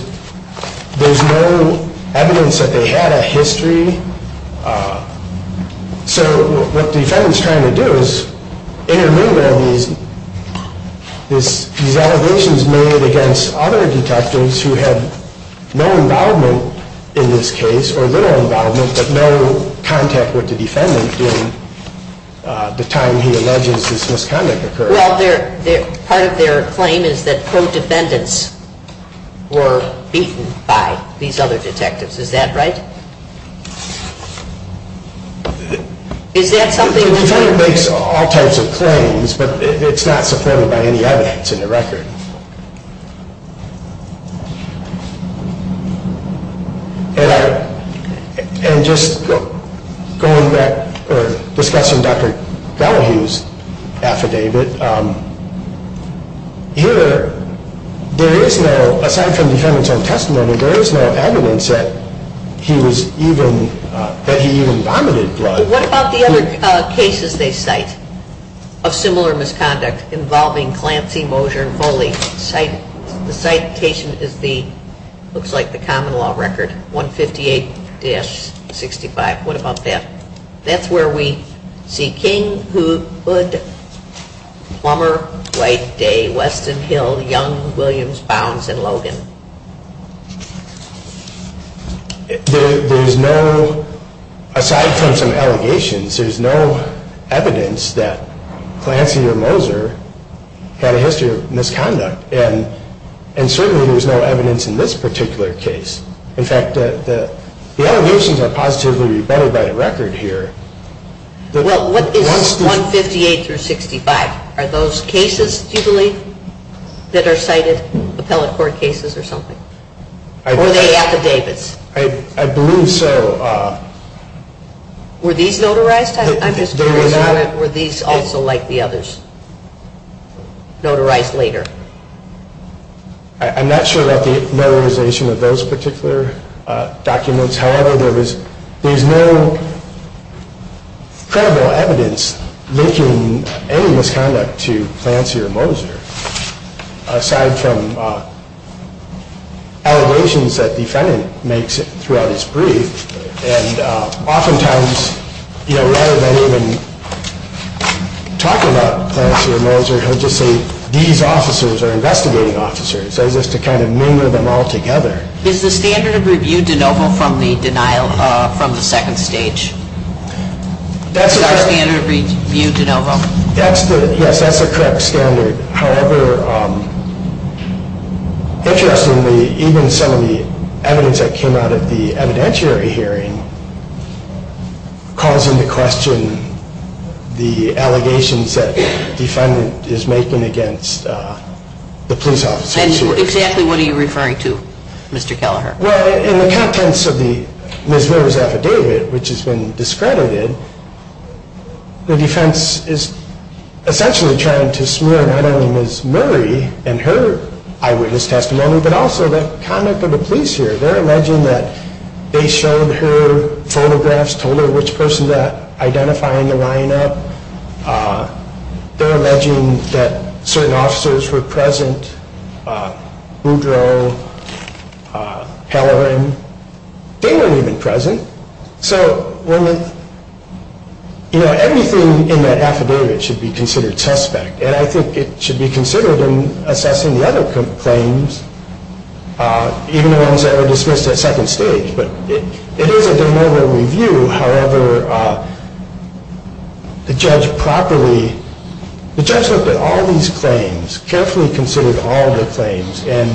no evidence that they had a history. So what the defendant is trying to do is intermingle these allegations made against other detectives who had no involvement in this case, or little involvement, but no contact with the defendant during the time he alleges this misconduct occurred. Well, part of their claim is that co-defendants were beaten by these other detectives. Is that right? The defendant makes all types of claims, but it's not supported by any evidence in the record. And just going back, or discussing Dr. Bellahue's affidavit, here there is no, aside from the defendant's own testimony, there is no evidence that he was even, that he even vomited blood. What about the other cases they cite of similar misconduct involving Clancy, Moser, and Foley? The citation is the, looks like the common law record, 158-65. What about that? That's where we see King, Hood, Plummer, White, Day, Weston, Hill, Young, Williams, Bounds, and Logan. There's no, aside from some allegations, there's no evidence that Clancy or Moser had a history of misconduct. And certainly there's no evidence in this particular case. In fact, the allegations are positively rebutted by the record here. Well, what is 158-65? Are those cases, do you believe, that are cited appellate court cases or something? Or are they affidavits? I believe so. Were these notarized? I'm just curious about it. Were these also like the others, notarized later? I'm not sure about the notarization of those particular documents. However, there was, there's no credible evidence linking any misconduct to Clancy or Moser, aside from allegations that the defendant makes throughout his brief. And oftentimes, you know, rather than even talk about Clancy or Moser, he'll just say, these officers are investigating officers. That's just to kind of mingle them all together. Is the standard of review de novo from the denial, from the second stage? Is our standard of review de novo? Yes, that's the correct standard. However, interestingly, even some of the evidence that came out of the evidentiary hearing calls into question the allegations that the defendant is making against the police officer. And exactly what are you referring to, Mr. Kelleher? Well, in the contents of the Ms. Miller's affidavit, which has been discredited, the defense is essentially trying to smear not only Ms. Murray and her eyewitness testimony, but also the conduct of the police here. They're alleging that they showed her photographs, told her which person's identifying the lineup. They're alleging that certain officers were present, Boudreau, Kelleher. They weren't even present. So, you know, everything in that affidavit should be considered suspect, and I think it should be considered in assessing the other claims, even the ones that were dismissed at second stage. But it is a de novo review. However, the judge properly, the judge looked at all these claims, carefully considered all the claims, and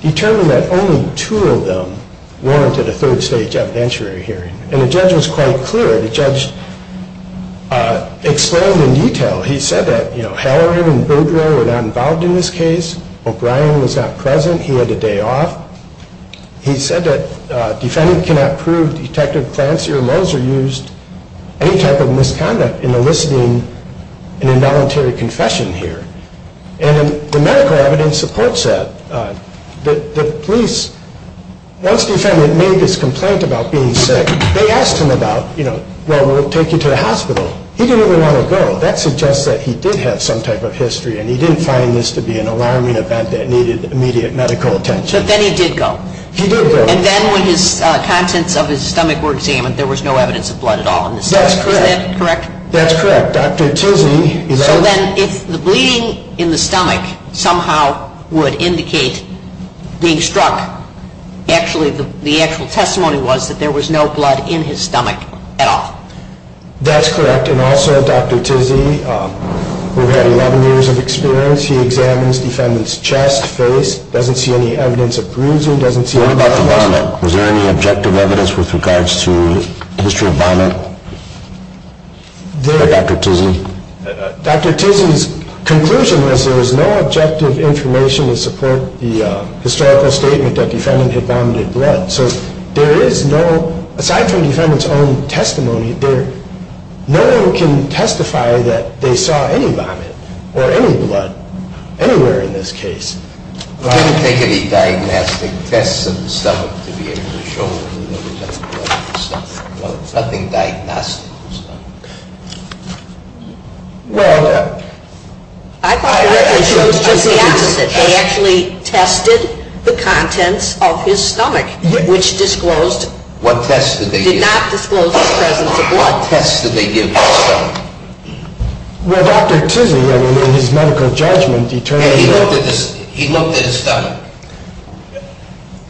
determined that only two of them warranted a third stage evidentiary hearing. And the judge was quite clear. The judge explained in detail. He said that, you know, Halloran and Boudreau were not involved in this case. O'Brien was not present. He had a day off. He said that defendant cannot prove Detective Clancy or Moser used any type of misconduct in eliciting an involuntary confession here. And the medical evidence supports that. The police, once the defendant made this complaint about being sick, they asked him about, you know, well, we'll take you to the hospital. He didn't even want to go. That suggests that he did have some type of history, and he didn't find this to be an alarming event that needed immediate medical attention. But then he did go. He did go. And then when his contents of his stomach were examined, there was no evidence of blood at all. That's correct. Is that correct? That's correct. So then if the bleeding in the stomach somehow would indicate being struck, actually the actual testimony was that there was no blood in his stomach at all. That's correct. And also Dr. Tizzi, who had 11 years of experience, he examines the defendant's chest, face, doesn't see any evidence of bruising. What about the vomit? Was there any objective evidence with regards to the history of vomit? Or Dr. Tizzi? Dr. Tizzi's conclusion was there was no objective information to support the historical statement that the defendant had vomited blood. So there is no, aside from the defendant's own testimony, no one can testify that they saw any vomit or any blood anywhere in this case. Well, I didn't take any diagnostic tests of the stomach to be able to show, you know, I didn't take any diagnostic tests of the stomach. Well, I chose just the opposite. They actually tested the contents of his stomach, which disclosed, did not disclose his presence of blood. What tests did they give his stomach? Well, Dr. Tizzi, I mean, in his medical judgment, determined, He looked at his stomach.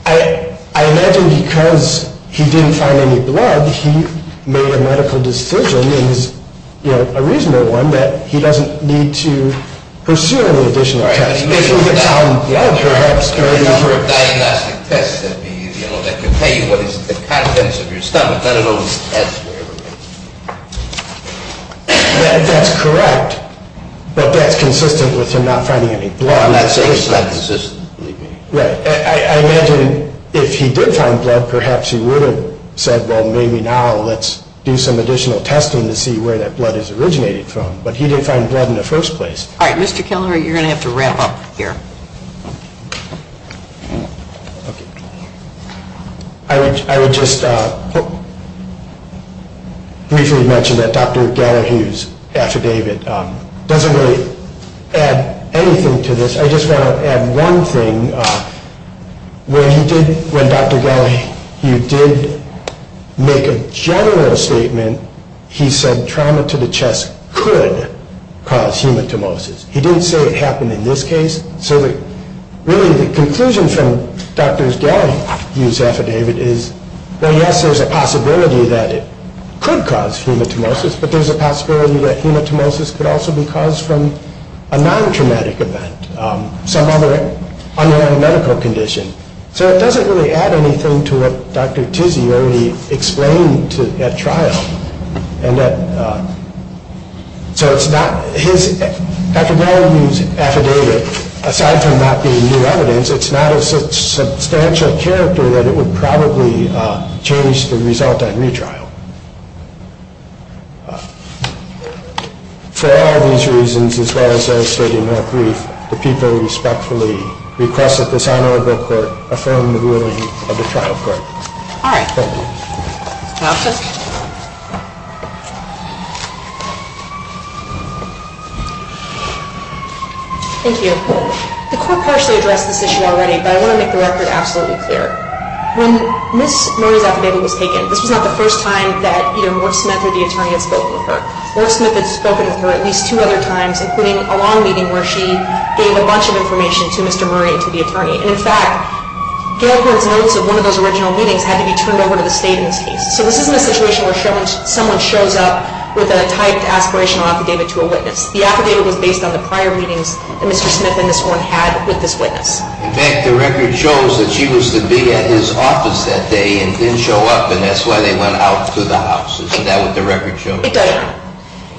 I imagine because he didn't find any blood, he made a medical decision, and it was, you know, a reasonable one, that he doesn't need to pursue any additional tests. That's correct. But that's consistent with him not finding any blood. Right. I imagine if he did find blood, perhaps he would have said, Well, maybe now let's do some additional testing to see where that blood is originated from. But he didn't find blood in the first place. All right. Mr. Kelleher, you're going to have to wrap up here. Okay. I would just briefly mention that Dr. Gallagher's affidavit doesn't really add anything to this. I just want to add one thing. When Dr. Gallagher did make a general statement, he said trauma to the chest could cause hematomosis. He didn't say it happened in this case. So really the conclusion from Dr. Gallagher's affidavit is, Well, yes, there's a possibility that it could cause hematomosis, but there's a possibility that hematomosis could also be caused from a non-traumatic event, some other underlying medical condition. So it doesn't really add anything to what Dr. Tizzi already explained at trial. So Dr. Gallagher's affidavit, aside from that being new evidence, it's not of such substantial character that it would probably change the result at retrial. For all these reasons, as well as devastating that brief, the people respectfully request that this honorable court affirm the ruling of the trial court. All right. Thank you. Counsel. Thank you. The court partially addressed this issue already, but I want to make the record absolutely clear. When Ms. Murray's affidavit was taken, this was not the first time that either Mork Smith or the attorney had spoken with her. Mork Smith had spoken with her at least two other times, including a long meeting where she gave a bunch of information to Mr. Murray and to the attorney. And in fact, Gallagher's notes of one of those original meetings had to be turned over to the state in this case. So this isn't a situation where someone shows up with a typed aspirational affidavit to a witness. The affidavit was based on the prior meetings that Mr. Smith and Ms. Horne had with this witness. In fact, the record shows that she was to be at his office that day and didn't show up, and that's why they went out to the house. Isn't that what the record shows? It does.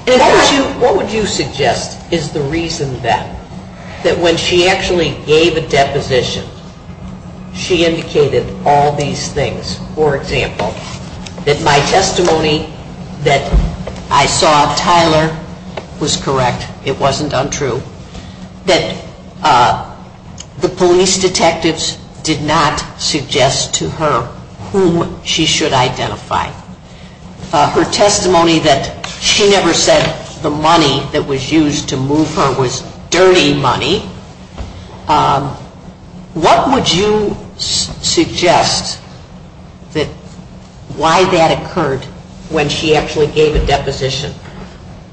And what would you suggest is the reason that, that when she actually gave a deposition, she indicated all these things. For example, that my testimony that I saw of Tyler was correct. It wasn't untrue. That the police detectives did not suggest to her whom she should identify. Her testimony that she never said the money that was used to move her was dirty money. What would you suggest that why that occurred when she actually gave a deposition?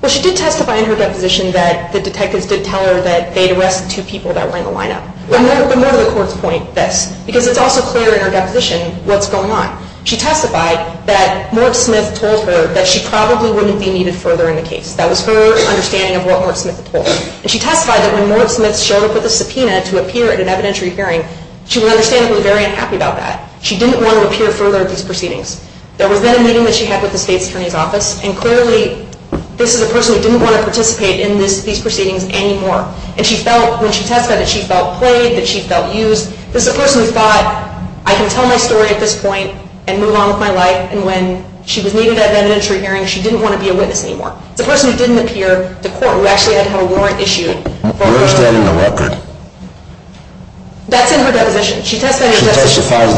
Well, she did testify in her deposition that the detectives did tell her that they had arrested two people that were in the lineup. But more to the court's point, this, because it's also clear in her deposition what's going on. She testified that Morg Smith told her that she probably wouldn't be needed further in the case. That was her understanding of what Morg Smith had told her. And she testified that when Morg Smith showed up with a subpoena to appear at an evidentiary hearing, she would understand that she was very unhappy about that. She didn't want to appear further at these proceedings. There was then a meeting that she had with the state's attorney's office. And clearly, this is a person who didn't want to participate in these proceedings anymore. And she felt, when she testified, that she felt played, that she felt used. This is a person who thought, I can tell my story at this point and move on with my life. And when she was needed at an evidentiary hearing, she didn't want to be a witness anymore. It's a person who didn't appear to court, who actually didn't have a warrant issued. That's in her deposition. She testified that she was told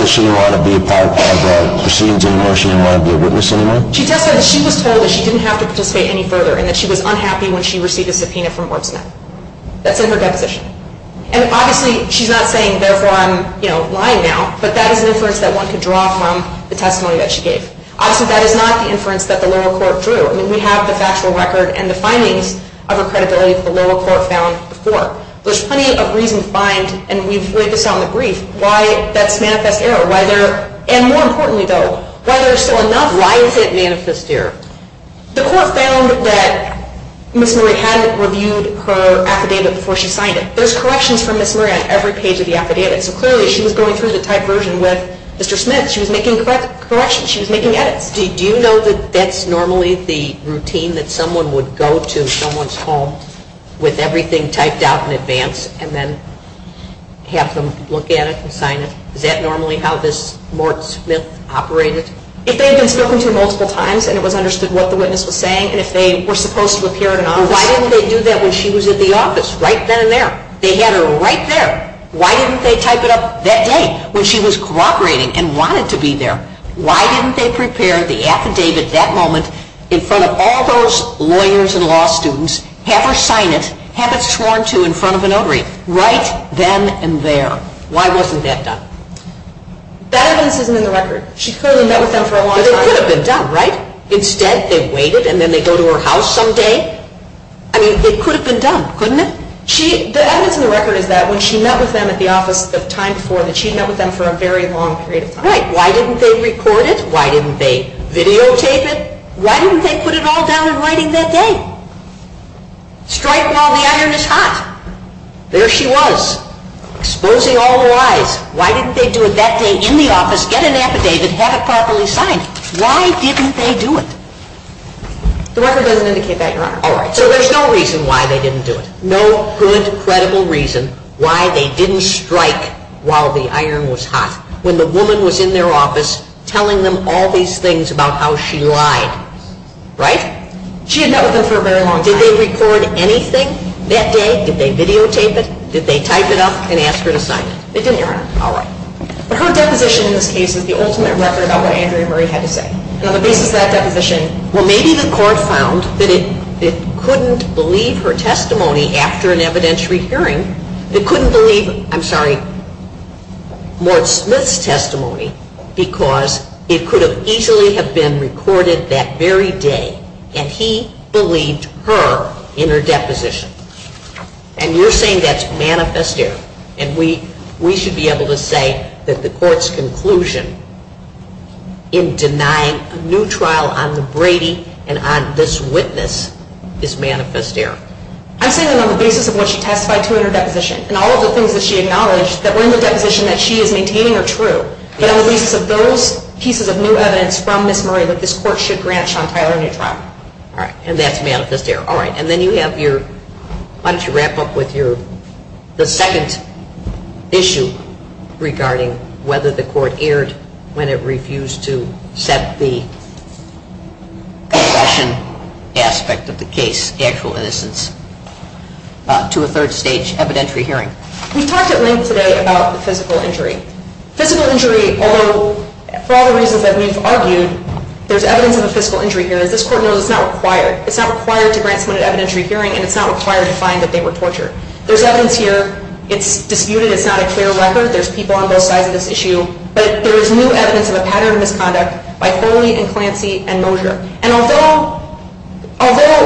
that she didn't have to participate any further and that she was unhappy when she received a subpoena from Morg Smith. That's in her deposition. And obviously, she's not saying, therefore, I'm lying now. But that is an inference that one could draw from the testimony that she gave. Obviously, that is not the inference that the lower court drew. I mean, we have the factual record and the findings of her credibility that the lower court found before. There's plenty of reason to find, and we've laid this out in the brief, why that's manifest error. And more importantly, though, why there's still enough. Why is it manifest error? The court found that Ms. Murray hadn't reviewed her affidavit before she signed it. There's corrections from Ms. Murray on every page of the affidavit. So clearly, she was going through the typed version with Mr. Smith. She was making corrections. She was making edits. Do you know that that's normally the routine that someone would go to someone's home with everything typed out in advance and then have them look at it and sign it? Is that normally how this Morg Smith operated? If they had been spoken to multiple times and it was understood what the witness was saying and if they were supposed to appear at an office. Well, why didn't they do that when she was at the office, right then and there? They had her right there. Why didn't they type it up that day when she was cooperating and wanted to be there? Why didn't they prepare the affidavit that moment in front of all those lawyers and law students, have her sign it, have it sworn to in front of a notary, right then and there? Why wasn't that done? That evidence isn't in the record. She clearly met with them for a long time. But it could have been done, right? Instead, they waited and then they go to her house some day. I mean, it could have been done, couldn't it? The evidence in the record is that when she met with them at the office the time before, that she met with them for a very long period of time. Right. Why didn't they record it? Why didn't they videotape it? Why didn't they put it all down in writing that day? Strike while the iron is hot. There she was, exposing all the lies. Why didn't they do it that day in the office, get an affidavit, have it properly signed? Why didn't they do it? The record doesn't indicate that, Your Honor. All right. So there's no reason why they didn't do it. No good, credible reason why they didn't strike while the iron was hot. When the woman was in their office telling them all these things about how she lied. Right? She had met with them for a very long time. Did they record anything that day? Did they videotape it? Did they type it up and ask her to sign it? They didn't, Your Honor. All right. But her deposition in this case is the ultimate record about what Andrea Murray had to say. And on the basis of that deposition, well, maybe the court found that it couldn't believe her testimony after an evidentiary hearing. It couldn't believe, I'm sorry, Mort Smith's testimony because it could have easily have been recorded that very day that he believed her in her deposition. And you're saying that's manifest error. And we should be able to say that the court's conclusion in denying a new trial on the Brady and on this witness is manifest error. I'm saying that on the basis of what she testified to in her deposition and all of the things that she acknowledged that were in the deposition that she is maintaining are true. But on the basis of those pieces of new evidence from Ms. Murray that this court should grant Sean Tyler a new trial. All right. And that's manifest error. All right. And then you have your, why don't you wrap up with your, the second issue regarding whether the court erred when it refused to set the concession aspect of the case, the actual innocence, to a third stage evidentiary hearing. We talked at length today about the physical injury. Physical injury, although for all the reasons that we've argued, there's evidence of a physical injury here. As this court knows, it's not required. It's not required to grant someone an evidentiary hearing, and it's not required to find that they were tortured. There's evidence here. It's disputed. It's not a clear record. There's people on both sides of this issue. But there is new evidence of a pattern of misconduct by Foley and Clancy and Mosier. And although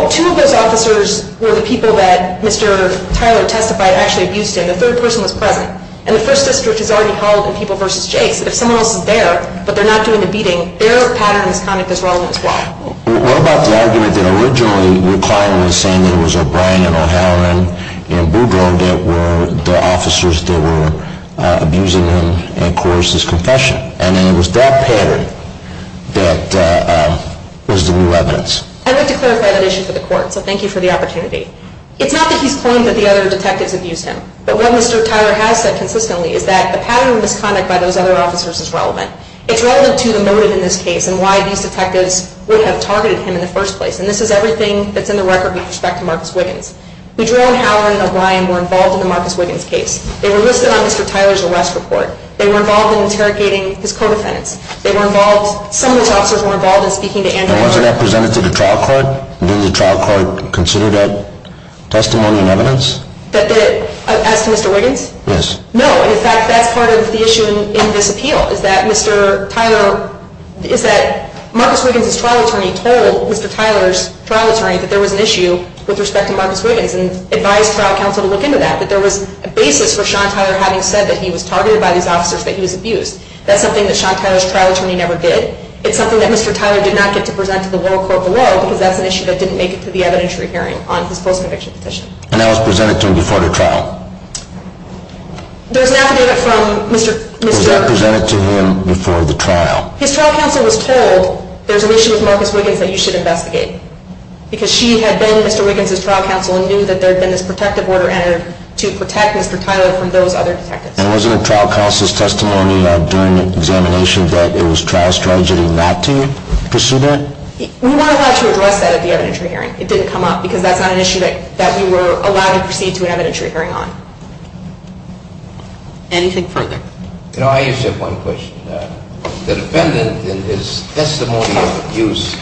two of those officers were the people that Mr. Tyler testified actually abused him, the third person was present. And the First District has already held in people versus Jakes that if someone else is there but they're not doing the beating, What about the argument that originally McClaren was saying it was O'Brien and O'Hara and Boudreau that were the officers that were abusing him and caused his confession? And then it was that pattern that was the new evidence. I'd like to clarify that issue for the court, so thank you for the opportunity. It's not that he's claimed that the other detectives abused him. But what Mr. Tyler has said consistently is that the pattern of misconduct by those other officers is relevant. It's relevant to the motive in this case and why these detectives would have targeted him in the first place. And this is everything that's in the record with respect to Marcus Wiggins. Boudreau and Howard and O'Brien were involved in the Marcus Wiggins case. They were listed on Mr. Tyler's arrest report. They were involved in interrogating his co-defendants. They were involved, some of those officers were involved in speaking to Andrew Howard. And wasn't that presented to the trial court? Did the trial court consider that testimony and evidence? As to Mr. Wiggins? Yes. No, in fact, that's part of the issue in this appeal is that Mr. Tyler is that Marcus Wiggins' trial attorney told Mr. Tyler's trial attorney that there was an issue with respect to Marcus Wiggins and advised trial counsel to look into that, that there was a basis for Sean Tyler having said that he was targeted by these officers, that he was abused. That's something that Sean Tyler's trial attorney never did. It's something that Mr. Tyler did not get to present to the world court below because that's an issue that didn't make it to the evidentiary hearing on his post-conviction petition. And that was presented to him before the trial? There's an affidavit from Mr. Was that presented to him before the trial? His trial counsel was told there's an issue with Marcus Wiggins that you should investigate. Because she had been Mr. Wiggins' trial counsel and knew that there had been this protective order entered to protect Mr. Tyler from those other detectives. And was it in trial counsel's testimony during the examination that it was trial strategy not to pursue that? We weren't allowed to address that at the evidentiary hearing. It didn't come up because that's not an issue that we were allowed to proceed to an evidentiary hearing on. Anything further? You know, I just have one question. The defendant in his testimony of abuse,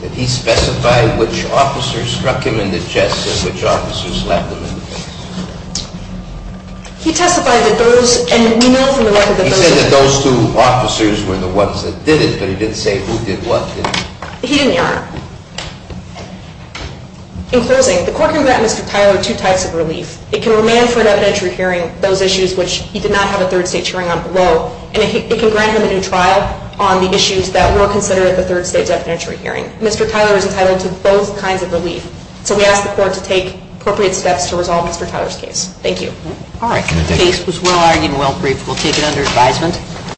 did he specify which officers struck him in the chest and which officers slapped him in the face? He testified that those, and we know from the record that those two officers were the ones that did it, but he didn't say who did what, did he? He didn't, Your Honor. In closing, the court can grant Mr. Tyler two types of relief. It can remand for an evidentiary hearing those issues which he did not have a third stage hearing on below. And it can grant him a new trial on the issues that were considered at the third stage evidentiary hearing. Mr. Tyler is entitled to both kinds of relief. So we ask the court to take appropriate steps to resolve Mr. Tyler's case. Thank you. All right. The case was well argued and well briefed. We'll take it under advisement.